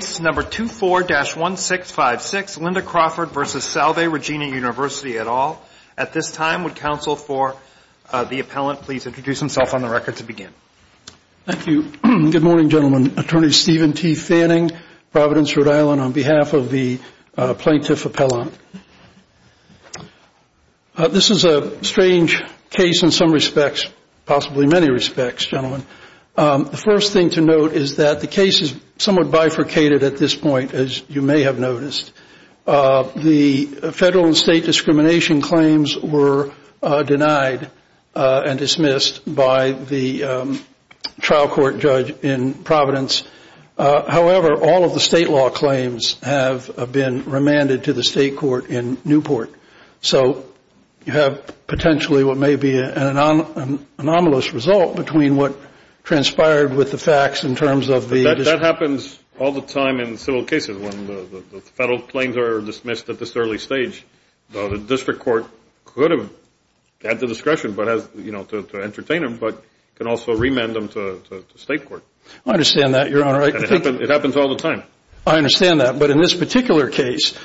at all. At this time, would counsel for the appellant please introduce himself on the record to begin. Thank you. Good morning, gentlemen. Attorney Steven T. Fanning, Providence, Rhode Island, on behalf of the plaintiff appellant. This is a strange case in some respects, possibly many respects, gentlemen. The first thing to note is that the case is somewhat bifurcated at this point, as you may have noticed. The federal and state discrimination claims were denied and dismissed by the trial court judge in Providence. However, all of the state law claims have been remanded to the state court in Newport. So you have potentially what may be an anomalous result between what transpired with the facts in terms of the That happens all the time in civil cases when the federal claims are dismissed at this early stage. The district court could have had the discretion to entertain them, but can also remand them to state court. I understand that, Your Honor. It happens all the time. I understand that. But in this particular case,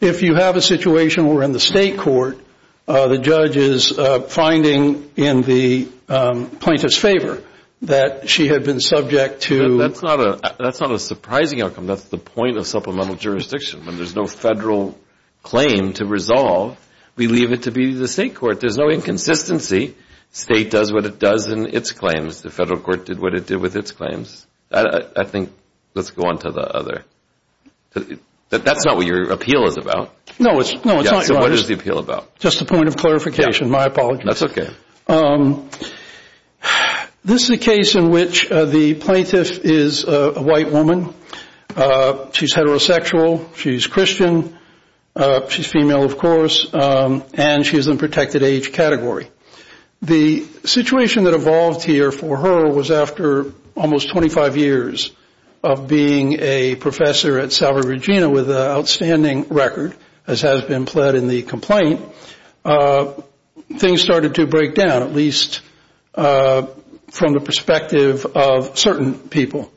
if you have a situation where in the state court the judge is finding in the plaintiff's favor that she had been subject to That's not a surprising outcome. That's the point of supplemental jurisdiction. When there's no federal claim to resolve, we leave it to be the state court. There's no inconsistency. State does what it does in its claims. The federal court did what it did with its claims. I think let's go on to the other. That's not what your appeal is about. No, it's not. What is the appeal about? Just a point of clarification. My apologies. That's okay. This is a case in which the plaintiff is a white woman. She's heterosexual. She's Christian. She's female, of course, and she is in the protected age category. The situation that evolved here for her was after almost 25 years of being a professor at Salvador Regina with an outstanding record, as has been pled in the complaint, things started to break down, at least from the perspective of certain people.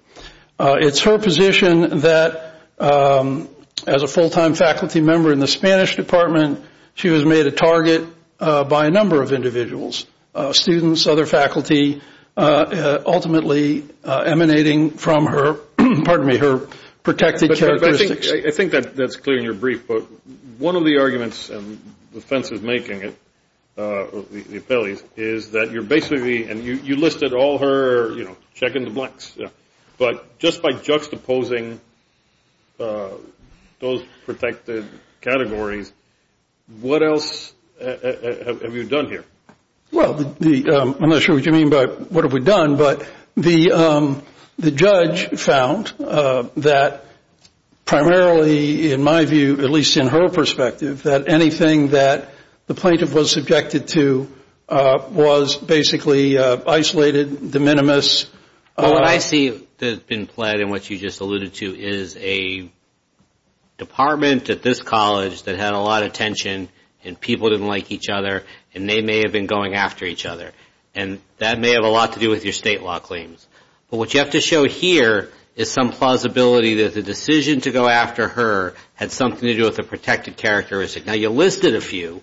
It's her position that as a full-time faculty member in the Spanish department, she was made a target by a number of individuals, students, other faculty, ultimately emanating from her protected characteristics. I think that's clear in your brief, but one of the arguments and the offense of making it, the appellees, is that you're basically and you listed all her check in the blanks, but just by juxtaposing those protected categories, what else have you done here? Well, I'm not sure what you mean by what have we done, but the judge found that primarily, in my view, at least in her perspective, that anything that the plaintiff was subjected to was basically isolated, de minimis. Well, what I see that's been pled and what you just alluded to is a department at this college that had a lot of tension and people didn't like each other and they may have been going after each other, and that may have a lot to do with your state law claims. But what you have to show here is some plausibility that the decision to go after her had something to do with a protected characteristic. Now, you listed a few,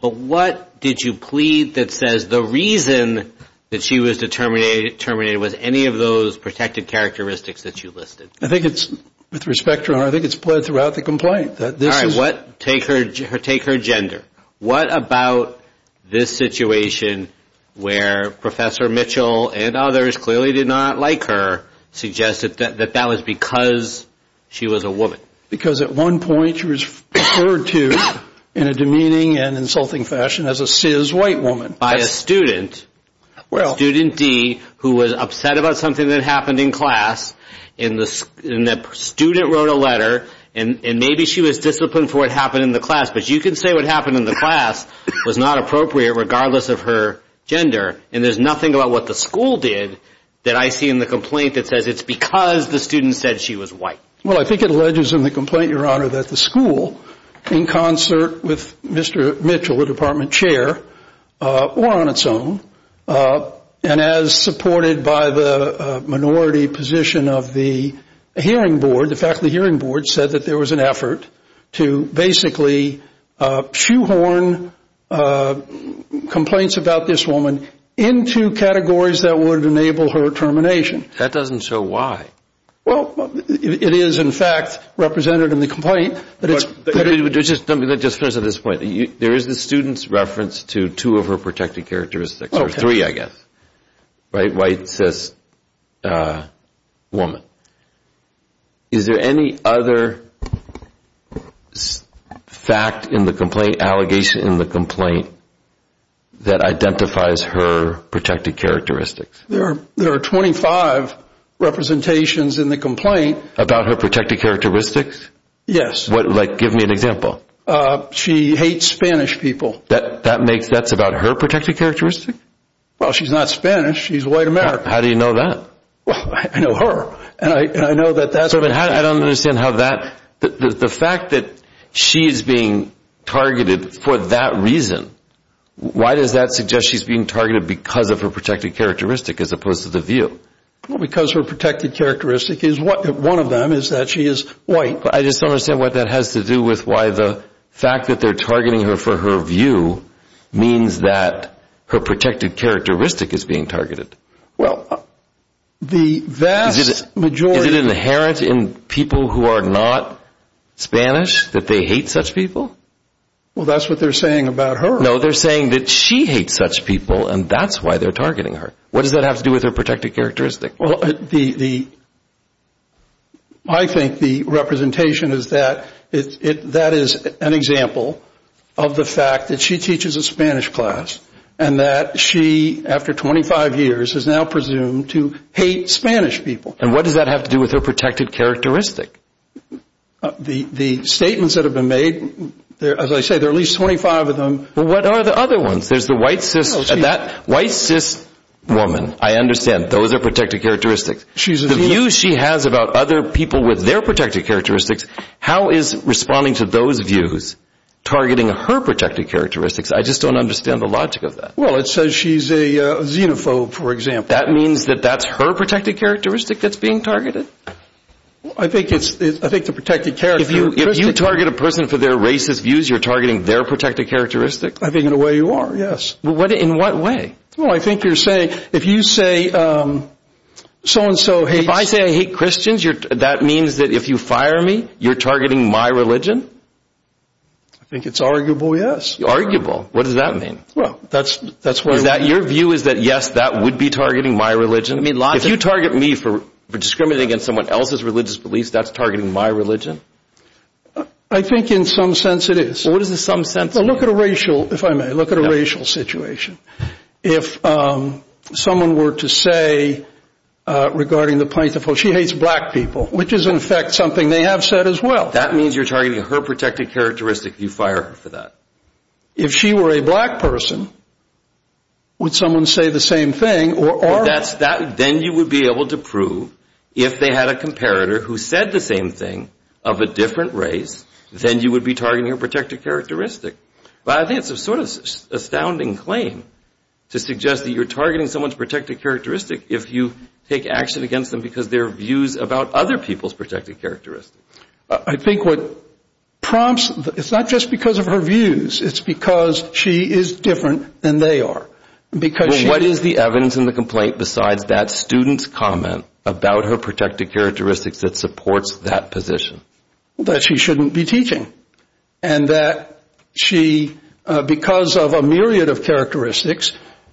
but what did you plead that says the reason that she was terminated was any of those protected characteristics that you listed? I think it's, with respect to her, I think it's pled throughout the complaint. All right, take her gender. What about this situation where Professor Mitchell and others clearly did not like her suggested that that was because she was a woman? Because at one point she was referred to in a demeaning and insulting fashion as a cis white woman. By a student, student D, who was upset about something that happened in class, and the student wrote a letter and maybe she was disciplined for what happened in the class, but you can say what happened in the class was not appropriate regardless of her gender, and there's nothing about what the school did that I see in the complaint that says it's because the student said she was white. Well, I think it alleges in the complaint, Your Honor, that the school, in concert with Mr. Mitchell, the department chair, or on its own, and as supported by the minority position of the hearing board, the faculty hearing board, said that there was an effort to basically shoehorn complaints about this woman into categories that would enable her termination. That doesn't show why. Well, it is, in fact, represented in the complaint. Let me just finish on this point. There is the student's reference to two of her protected characteristics, or three, I guess. White, cis woman. Is there any other fact in the complaint, allegation in the complaint, that identifies her protected characteristics? There are 25 representations in the complaint. About her protected characteristics? Yes. Give me an example. She hates Spanish people. That's about her protected characteristic? Well, she's not Spanish. She's a white American. How do you know that? Well, I know her, and I know that that's what happened. I don't understand how that, the fact that she's being targeted for that reason, why does that suggest she's being targeted because of her protected characteristic as opposed to the view? Well, because her protected characteristic is, one of them is that she is white. I just don't understand what that has to do with why the fact that they're targeting her for her view means that her protected characteristic is being targeted. Well, the vast majority... Is it inherent in people who are not Spanish that they hate such people? Well, that's what they're saying about her. No, they're saying that she hates such people, and that's why they're targeting her. What does that have to do with her protected characteristic? Well, I think the representation is that that is an example of the fact that she teaches a Spanish class and that she, after 25 years, has now presumed to hate Spanish people. And what does that have to do with her protected characteristic? The statements that have been made, as I say, there are at least 25 of them. Well, what are the other ones? There's the white cis woman. I understand. Those are protected characteristics. The view she has about other people with their protected characteristics, how is responding to those views targeting her protected characteristics? I just don't understand the logic of that. Well, it says she's a xenophobe, for example. That means that that's her protected characteristic that's being targeted? I think the protected characteristic... If you target a person for their racist views, you're targeting their protected characteristic? I think in a way you are, yes. In what way? Well, I think you're saying if you say so-and-so hates... If I say I hate Christians, that means that if you fire me, you're targeting my religion? I think it's arguable, yes. Arguable? What does that mean? Well, that's why... Is that your view is that, yes, that would be targeting my religion? If you target me for discriminating against someone else's religious beliefs, that's targeting my religion? I think in some sense it is. What is the some sense? Well, look at a racial, if I may, look at a racial situation. If someone were to say regarding the plaintiff, well, she hates black people, which is, in effect, something they have said as well. That means you're targeting her protected characteristic. You fire her for that? If she were a black person, would someone say the same thing? Then you would be able to prove if they had a comparator who said the same thing of a different race, then you would be targeting her protected characteristic. But I think it's a sort of astounding claim to suggest that you're targeting someone's protected characteristic if you take action against them because their views about other people's protected characteristics. I think what prompts, it's not just because of her views, it's because she is different than they are. Because she... Well, what is the evidence in the complaint besides that student's comment about her protected characteristics that supports that position? That she shouldn't be teaching. And that she, because of a myriad of characteristics,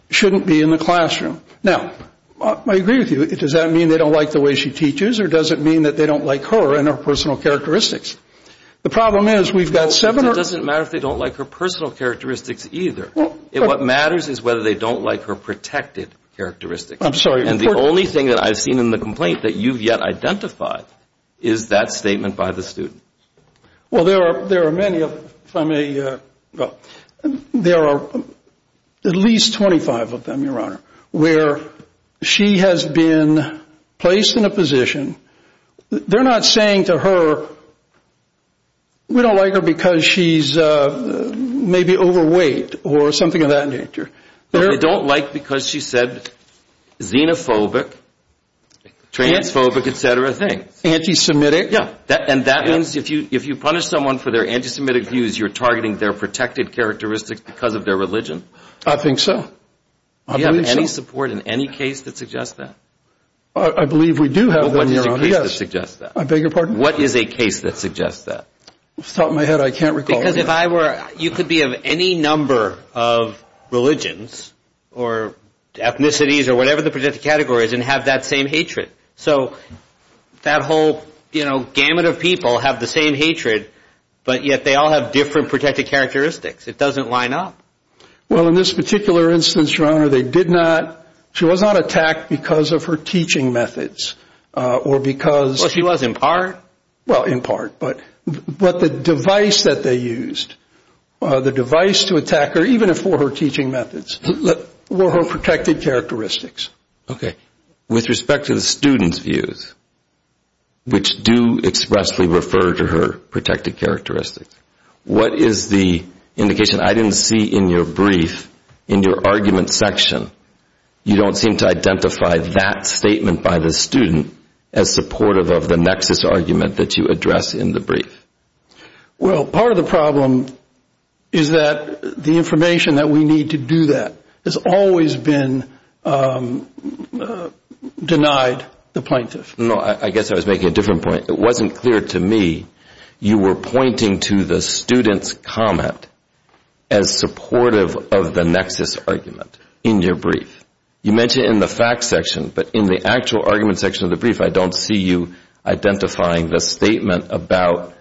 shouldn't be in the classroom. Now, I agree with you. Does that mean they don't like the way she teaches or does it mean that they don't like her and her personal characteristics? The problem is we've got seven or... It doesn't matter if they don't like her personal characteristics either. What matters is whether they don't like her protected characteristics. I'm sorry. And the only thing that I've seen in the complaint that you've yet identified is that statement by the student. Well, there are many from a... Well, there are at least 25 of them, Your Honor, where she has been placed in a position. They're not saying to her, we don't like her because she's maybe overweight or something of that nature. They don't like because she said xenophobic, transphobic, et cetera things. Anti-Semitic. Yeah. And that means if you punish someone for their anti-Semitic views, you're targeting their protected characteristics because of their religion? I think so. Do you have any support in any case that suggests that? I believe we do have that, Your Honor. What is a case that suggests that? I beg your pardon? What is a case that suggests that? It's on my head. I can't recall. Because if I were... You could be of any number of religions or ethnicities or whatever the protected category is and have that same hatred. So that whole gamut of people have the same hatred, but yet they all have different protected characteristics. It doesn't line up. Well, in this particular instance, Your Honor, they did not... She was not attacked because of her teaching methods or because... Well, she was in part. Well, in part. But the device that they used, the device to attack her, even for her teaching methods, were her protected characteristics. Okay. With respect to the student's views, which do expressly refer to her protected characteristics, what is the indication? I didn't see in your brief, in your argument section, you don't seem to identify that statement by the student as supportive of the nexus argument that you address in the brief. Well, part of the problem is that the information that we need to do that has always been denied the plaintiff. No, I guess I was making a different point. It wasn't clear to me you were pointing to the student's comment as supportive of the nexus argument in your brief. You mentioned it in the facts section, but in the actual argument section of the brief, I don't see you identifying the statement about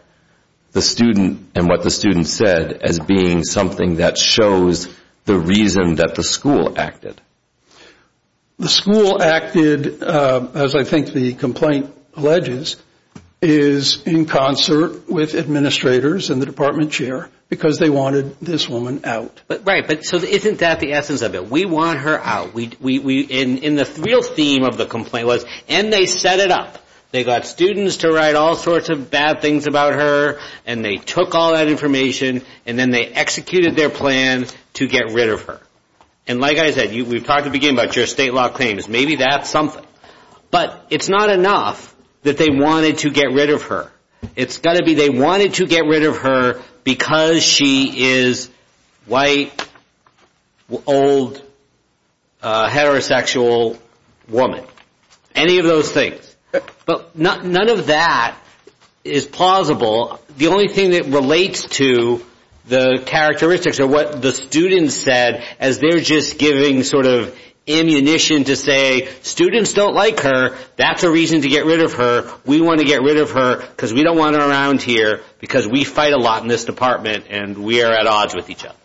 the student and what the student said as being something that shows the reason that the school acted. The school acted, as I think the complaint alleges, is in concert with administrators and the department chair because they wanted this woman out. Right, but isn't that the essence of it? We want her out. And the real theme of the complaint was, and they set it up. They got students to write all sorts of bad things about her, and they took all that information, and then they executed their plan to get rid of her. And like I said, we've talked at the beginning about your state law claims. Maybe that's something. But it's not enough that they wanted to get rid of her. It's got to be they wanted to get rid of her because she is white, old, heterosexual woman. Any of those things. But none of that is plausible. The only thing that relates to the characteristics of what the students said is they're just giving sort of ammunition to say students don't like her. That's a reason to get rid of her. We want to get rid of her because we don't want her around here because we fight a lot in this department, and we are at odds with each other.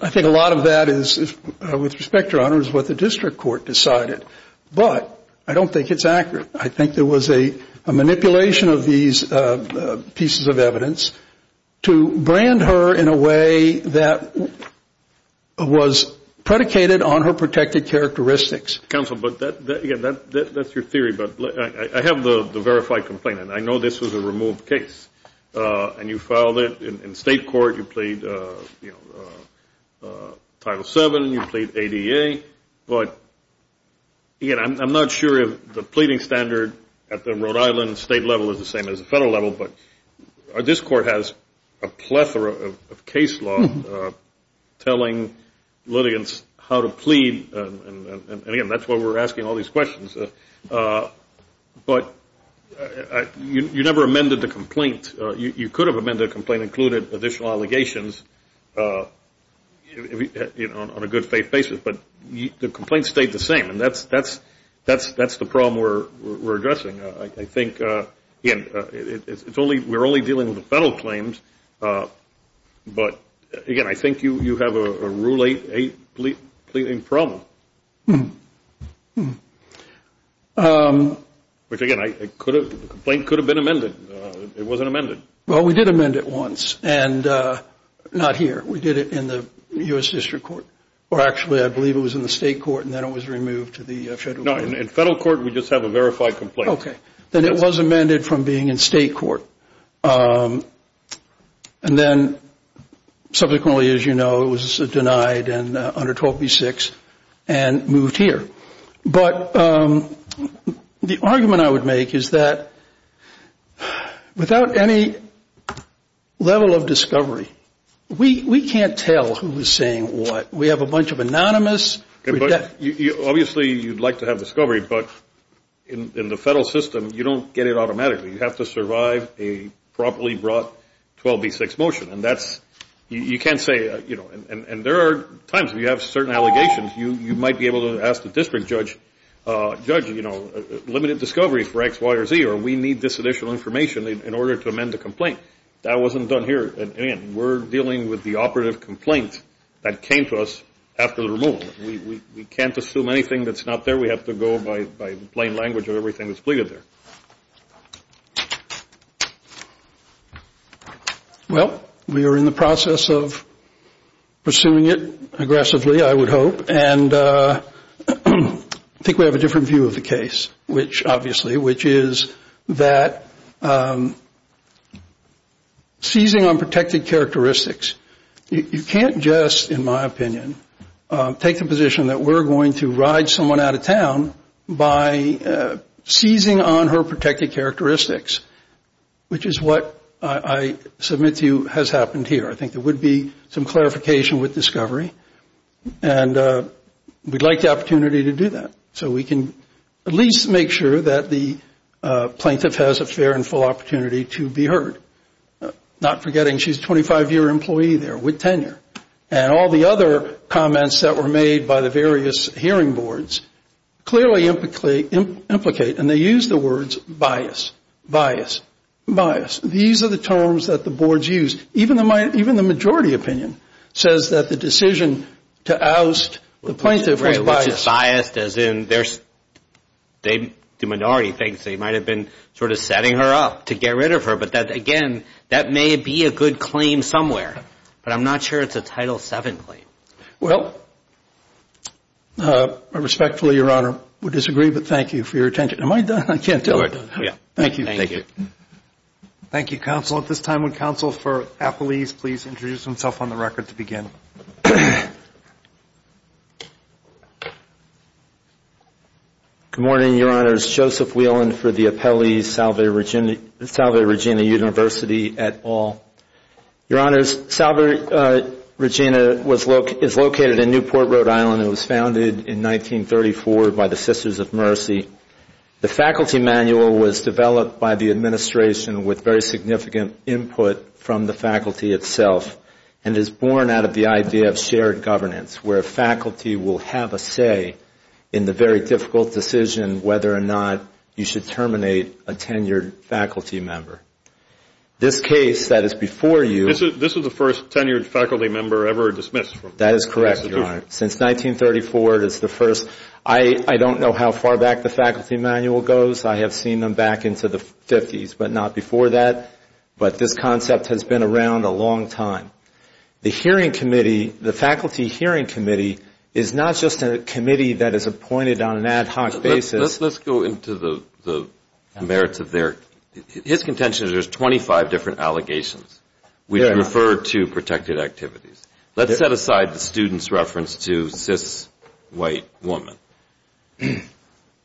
I think a lot of that is, with respect, Your Honor, is what the district court decided. But I don't think it's accurate. I think there was a manipulation of these pieces of evidence to brand her in a way that was predicated on her protected characteristics. Counsel, but that's your theory. But I have the verified complaint, and I know this was a removed case. And you filed it in state court. You plead Title VII. You plead ADA. But, again, I'm not sure if the pleading standard at the Rhode Island state level is the same as the federal level. But this court has a plethora of case law telling litigants how to plead. And, again, that's why we're asking all these questions. But you never amended the complaint. You could have amended the complaint and included additional allegations on a good faith basis. But the complaint stayed the same, and that's the problem we're addressing. I think, again, we're only dealing with the federal claims. But, again, I think you have a Rule 8 pleading problem. Which, again, the complaint could have been amended. It wasn't amended. Well, we did amend it once, and not here. We did it in the U.S. District Court. Or, actually, I believe it was in the state court, and then it was removed to the federal court. No, in federal court, we just have a verified complaint. Okay. Then it was amended from being in state court. And then, subsequently, as you know, it was denied under 12b-6 and moved here. But the argument I would make is that without any level of discovery, we can't tell who is saying what. We have a bunch of anonymous. Obviously, you'd like to have discovery, but in the federal system, you don't get it automatically. You have to survive a properly brought 12b-6 motion, and that's you can't say, you know. And there are times when you have certain allegations, you might be able to ask the district judge, you know, limited discovery for X, Y, or Z, or we need this additional information in order to amend the complaint. That wasn't done here. And, again, we're dealing with the operative complaint that came to us after the removal. We can't assume anything that's not there. We have to go by plain language of everything that's pleaded there. Well, we are in the process of pursuing it aggressively, I would hope, and I think we have a different view of the case, obviously, which is that seizing on protected characteristics, you can't just, in my opinion, take the position that we're going to ride someone out of town by seizing on her protected characteristics, which is what I submit to you has happened here. I think there would be some clarification with discovery, and we'd like the opportunity to do that so we can at least make sure that the plaintiff has a fair and full opportunity to be heard. Not forgetting, she's a 25-year employee there with tenure, and all the other comments that were made by the various hearing boards clearly implicate, and they use the words, bias, bias, bias. These are the terms that the boards use. Even the majority opinion says that the decision to oust the plaintiff was biased. Biased as in they do minority things. They might have been sort of setting her up to get rid of her. But, again, that may be a good claim somewhere, but I'm not sure it's a Title VII claim. Well, I respectfully, Your Honor, would disagree, but thank you for your attention. Am I done? I can't tell if I'm done. Thank you. Thank you, counsel. At this time, would Counsel for Appellees please introduce himself on the record to begin? Good morning, Your Honors. Joseph Whelan for the Appellee Salve Regina University et al. Your Honors, Salve Regina is located in Newport, Rhode Island. It was founded in 1934 by the Sisters of Mercy. The faculty manual was developed by the administration with very significant input from the faculty itself and is born out of the idea of shared governance where faculty will have a say in the very difficult decision whether or not you should terminate a tenured faculty member. This case that is before you. This is the first tenured faculty member ever dismissed from the institution. That is correct, Your Honor. Since 1934, it is the first. I don't know how far back the faculty manual goes. I have seen them back into the 50s, but not before that. But this concept has been around a long time. The hearing committee, the faculty hearing committee, is not just a committee that is appointed on an ad hoc basis. Let's go into the merits of their. His contention is there's 25 different allegations. We refer to protected activities. Let's set aside the student's reference to cis white woman.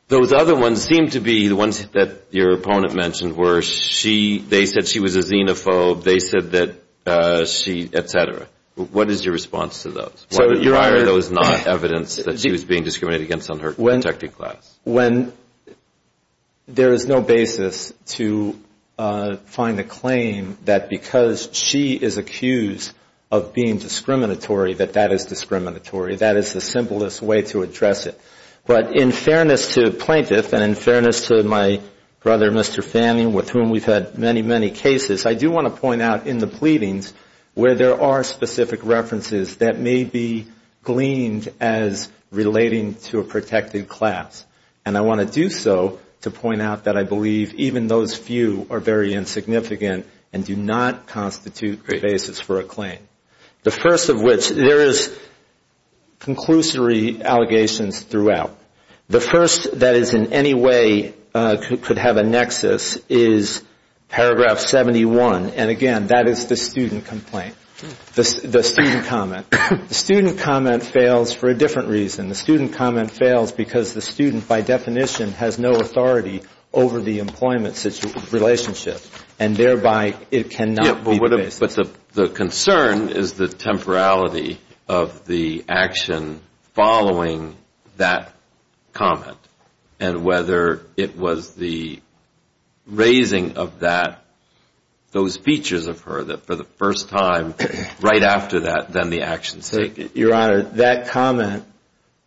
Those other ones seem to be the ones that your opponent mentioned where they said she was a xenophobe, they said that she, et cetera. What is your response to those? Why are those not evidence that she was being discriminated against on her protected class? There is no basis to find a claim that because she is accused of being discriminatory that that is discriminatory. That is the simplest way to address it. But in fairness to the plaintiff and in fairness to my brother, Mr. Fanning, with whom we've had many, many cases, I do want to point out in the pleadings where there are specific references that may be gleaned as relating to a protected class. And I want to do so to point out that I believe even those few are very insignificant and do not constitute the basis for a claim. The first of which, there is conclusory allegations throughout. The first that is in any way could have a nexus is paragraph 71, and again, that is the student complaint, the student comment. The student comment fails for a different reason. The student comment fails because the student, by definition, has no authority over the employment relationship. And thereby, it cannot be the basis. But the concern is the temporality of the action following that comment and whether it was the raising of that, those features of her, that for the first time right after that, then the action is taken. Your Honor, that comment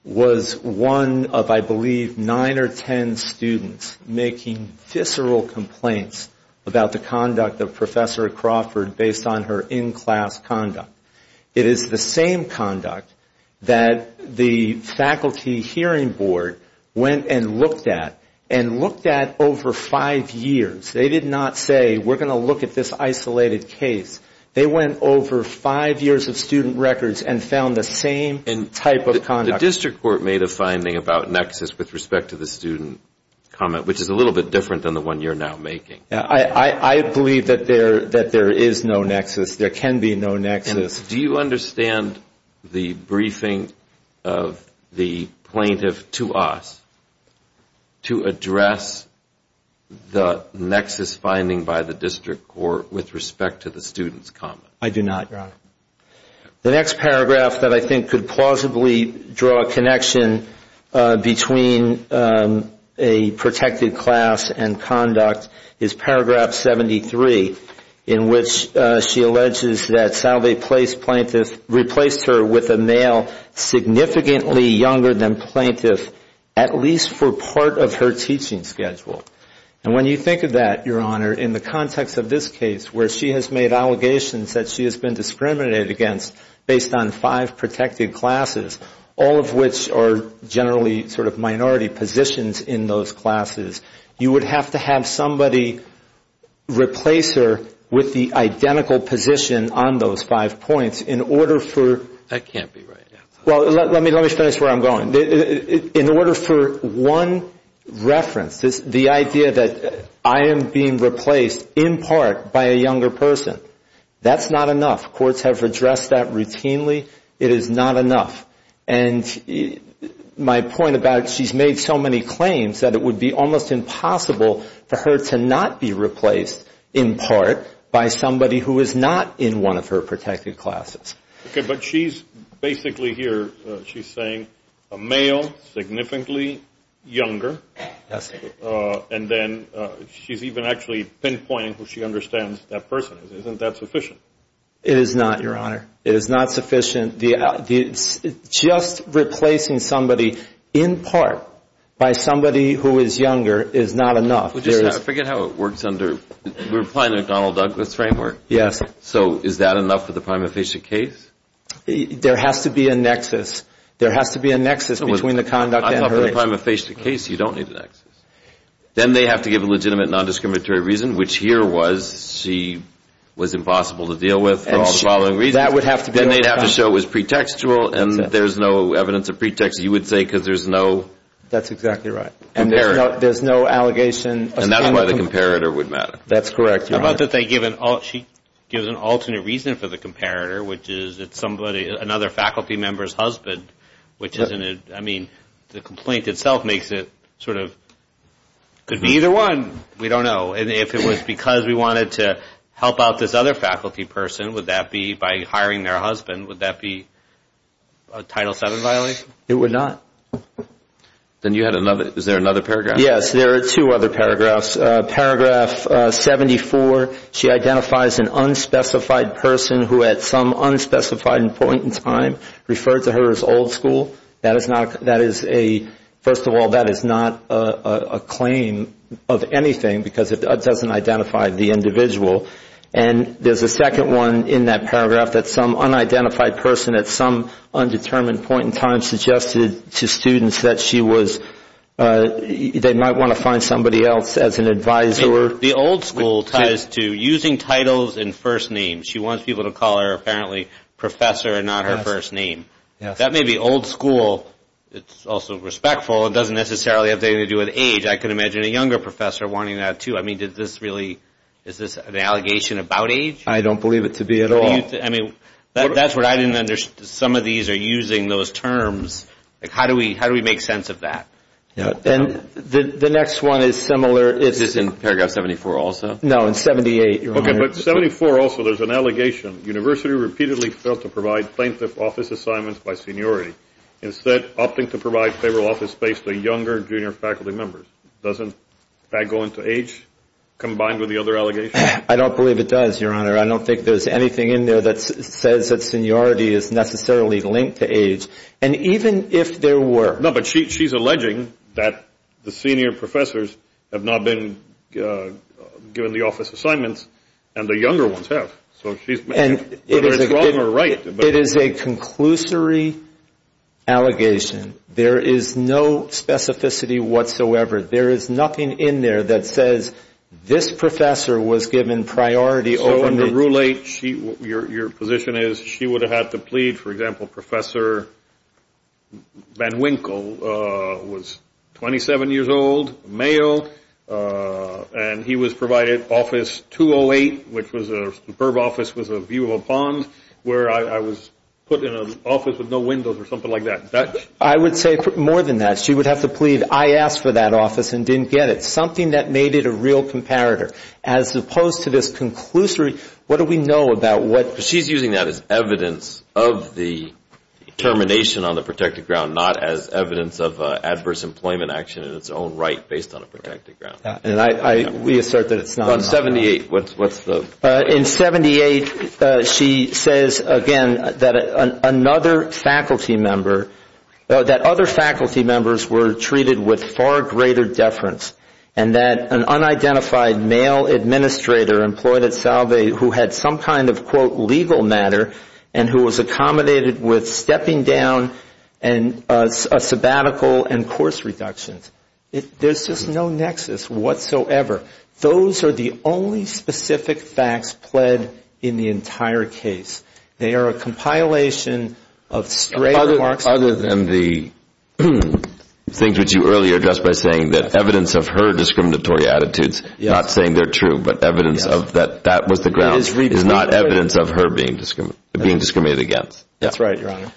was one of, I believe, nine or ten students making visceral complaints about the conduct of Professor Crawford based on her in-class conduct. It is the same conduct that the Faculty Hearing Board went and looked at and looked at over five years. They did not say, we're going to look at this isolated case. They went over five years of student records and found the same type of conduct. The district court made a finding about nexus with respect to the student comment, which is a little bit different than the one you're now making. I believe that there is no nexus. There can be no nexus. Do you understand the briefing of the plaintiff to us to address the nexus finding by the district court with respect to the student comment? I do not, Your Honor. The next paragraph that I think could plausibly draw a connection between a protected class and conduct is paragraph 73, in which she alleges that Salve Place plaintiff replaced her with a male significantly younger than plaintiff, at least for part of her teaching schedule. And when you think of that, Your Honor, in the context of this case where she has made allegations that she has been discriminated against based on five protected classes, all of which are generally sort of minority positions in those classes, you would have to have somebody replace her with the identical position on those five points in order for That can't be right. Well, let me finish where I'm going. In order for one reference, the idea that I am being replaced in part by a younger person, that's not enough. Courts have addressed that routinely. It is not enough. And my point about she's made so many claims that it would be almost impossible for her to not be replaced in part by somebody who is not in one of her protected classes. Okay, but she's basically here, she's saying a male significantly younger, and then she's even actually pinpointing who she understands that person is. Isn't that sufficient? It is not, Your Honor. It is not sufficient. Just replacing somebody in part by somebody who is younger is not enough. I forget how it works under, we're applying a Donald Douglas framework. Yes. So is that enough for the prima facie case? There has to be a nexus. There has to be a nexus between the conduct and her age. I thought for the prima facie case you don't need a nexus. Then they have to give a legitimate non-discriminatory reason, which here was she was impossible to deal with for all the following reasons. She has no allegation. And that's why the comparator would matter. That's correct, Your Honor. How about that she gives an alternate reason for the comparator, which is it's somebody, another faculty member's husband, which isn't a, I mean, the complaint itself makes it sort of, could be either one, we don't know. If it was because we wanted to help out this other faculty person, would that be, by hiring their husband, would that be a Title VII violation? It would not. Then you had another, is there another paragraph? Yes, there are two other paragraphs. Paragraph 74, she identifies an unspecified person who at some unspecified point in time referred to her as old school. That is not, first of all, that is not a claim of anything because it doesn't identify the individual. And there's a second one in that paragraph that some unidentified person at some undetermined point in time suggested to students that she was, they might want to find somebody else as an advisor. The old school ties to using titles and first names. She wants people to call her, apparently, professor and not her first name. That may be old school. It's also respectful. It doesn't necessarily have anything to do with age. I can imagine a younger professor wanting that, too. I mean, did this really, is this an allegation about age? I don't believe it to be at all. That's what I didn't understand. Some of these are using those terms. How do we make sense of that? And the next one is similar. Is this in paragraph 74 also? No, in 78. But 74 also, there's an allegation. I don't believe it does, Your Honor. I don't think there's anything in there that says that seniority is necessarily linked to age. And even if there were. No, but she's alleging that the senior professors have not been given the office assignments and the younger ones have. So whether it's wrong or right. It is a conclusory allegation. There is no specificity whatsoever. There is nothing in there that says this professor was given priority over the ruling. Your position is she would have had to plead, for example, Professor Van Winkle was 27 years old, male, and he was provided office 208, which was a superb office, was a view of a pond where I was put in an office with no windows or something like that. I would say more than that. She would have to plead. I asked for that office and didn't get it. Something that made it a real comparator as opposed to this conclusory. What do we know about what she's using that as evidence of the termination on the protected ground, not as evidence of adverse employment action in its own right based on a protected ground. And I we assert that it's not 78. What's what's the in 78. She says again that another faculty member that other faculty members were treated with far greater deference and that an unidentified male administrator employed at Salve who had some kind of, quote, legal matter and who was accommodated with stepping down and a sabbatical and course reductions. There's just no nexus whatsoever. Those are the only specific facts pled in the entire case. They are a compilation of straight other than the things that you earlier just by saying that evidence of her discriminatory attitudes, not saying they're true, but evidence of that. That was the ground is not evidence of her being discriminated against. That's right. Your Honor.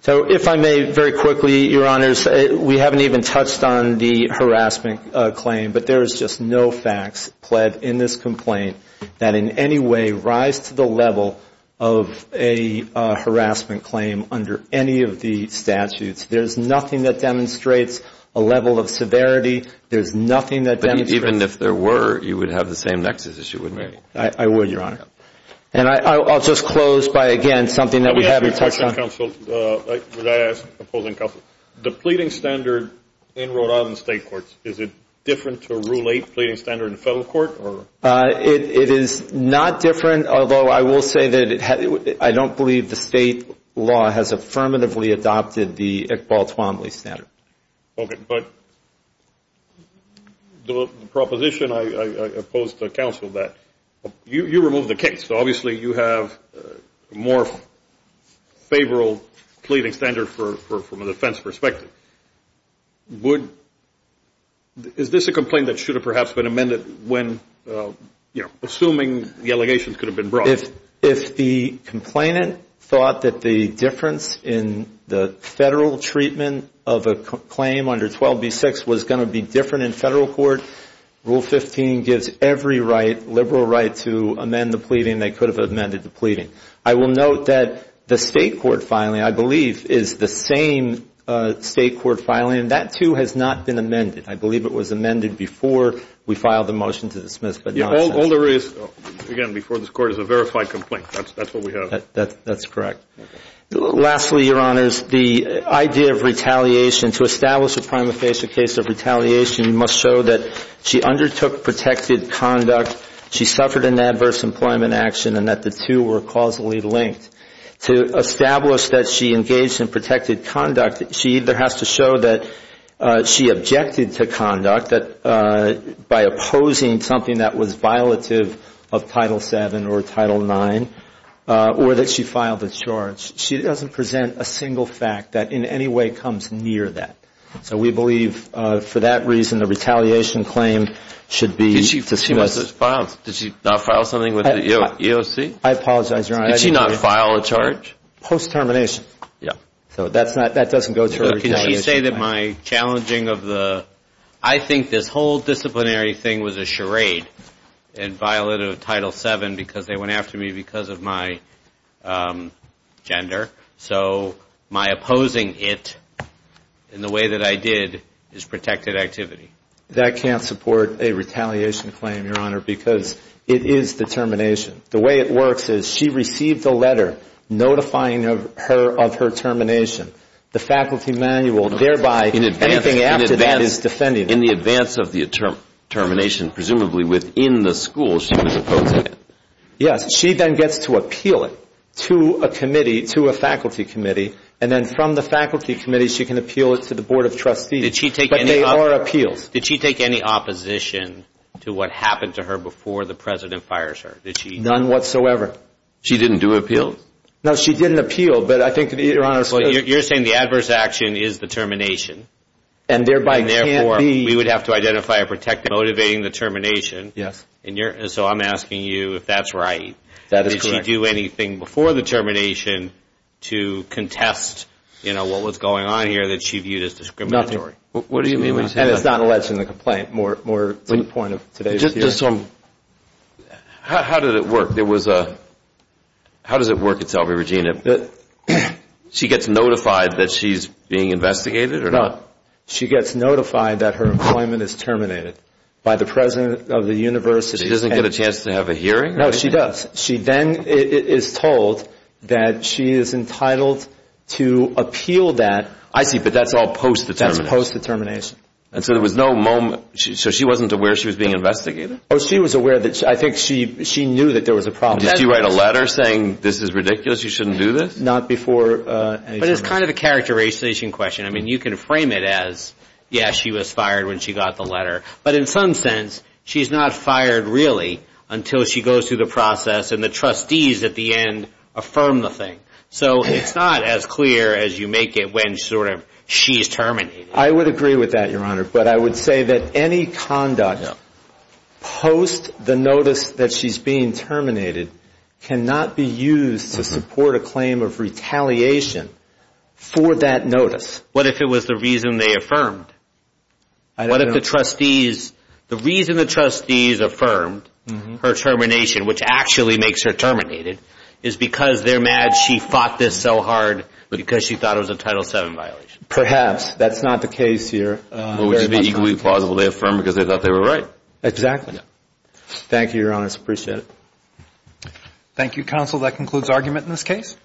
So if I may very quickly, Your Honors, we haven't even touched on the harassment claim, but there is just no facts pled in this complaint that in any way rise to the level of a harassment claim under any of the statutes. There's nothing that demonstrates a level of severity. There's nothing that even if there were, you would have the same nexus as you would. I would, Your Honor. And I'll just close by again, something that we haven't touched on. Counsel, would I ask, opposing counsel, the pleading standard in Rhode Island state courts, is it different to rule eight pleading standard in federal court? It is not different, although I will say that I don't believe the state law has affirmatively adopted the Iqbal Twombly standard. But the proposition, I oppose to counsel that. You remove the case. Obviously you have a more favorable pleading standard from a defense perspective. Is this a complaint that should have perhaps been amended when, assuming the allegations could have been brought? If the complainant thought that the difference in the federal treatment of a claim under 12B6 was going to be different in federal court, rule 15 gives every right, liberal right, to amend the pleading. They could have amended the pleading. I will note that the state court filing, I believe, is the same state court filing. That, too, has not been amended. I believe it was amended before we filed the motion to dismiss, but not since. Again, before this Court is a verified complaint. That's what we have. That's correct. Lastly, Your Honors, the idea of retaliation, to establish a prima facie case of retaliation, you must show that she undertook protected conduct, she suffered an adverse employment action, and that the two were causally linked. To establish that she engaged in protected conduct, she either has to show that she objected to conduct by opposing something that was a charge, she doesn't present a single fact that in any way comes near that. So we believe, for that reason, the retaliation claim should be dismissed. Did she not file something with the EOC? I apologize, Your Honor. Did she not file a charge? Post-termination. So that doesn't go to retaliation. Can she say that my challenging of the, I think this whole disciplinary thing was a charade and violated Title VII because they went after me because of my gender? So my opposing it in the way that I did is protected activity. That can't support a retaliation claim, Your Honor, because it is the termination. The way it works is she received a letter notifying her of her termination, the faculty manual, thereby anything after that is defended. In the advance of the termination, presumably within the school she was opposing it. Yes, she then gets to appeal it to a committee, to a faculty committee, and then from the faculty committee she can appeal it to the Board of Trustees. But they are appeals. Did she take any opposition to what happened to her before the President fires her? None whatsoever. She didn't do an appeal? No, she didn't appeal. You're saying the adverse action is the termination. Therefore, we would have to identify a protected act motivating the termination. So I'm asking you if that's right. Did she do anything before the termination to contest what was going on here that she viewed as discriminatory? Nothing. And it's not alleged in the complaint. More to the point of today's work itself, Regina, she gets notified that she's being investigated or not? No, she gets notified that her appointment is terminated by the President of the University. She doesn't get a chance to have a hearing? No, she does. She then is told that she is entitled to appeal that. I see, but that's all post-determination. That's post-determination. So she wasn't aware she was being investigated? Oh, she was aware. I think she knew there was a problem. Did she write a letter saying, this is ridiculous, you shouldn't do this? Not before. But it's kind of a characterization question. You can frame it as, yes, she was fired when she got the letter. But in some sense, she's not fired really until she goes through the process and the trustees at the end affirm the thing. So it's not as clear as you make it when she's terminated. I would agree with that, Your Honor. But I would say that any conduct post the notice that she's being terminated cannot be used to support a claim of retaliation for that notice. What if it was the reason they affirmed? What if the trustees, the reason the trustees affirmed her termination, which actually makes her terminated, is because they're mad she fought this so hard because she thought it was a Title VII violation? Perhaps. That's not the case here. But would it be equally plausible to affirm because they thought they were right? Exactly. Thank you, Your Honor. I appreciate it. Thank you, Counsel. That concludes argument in this case.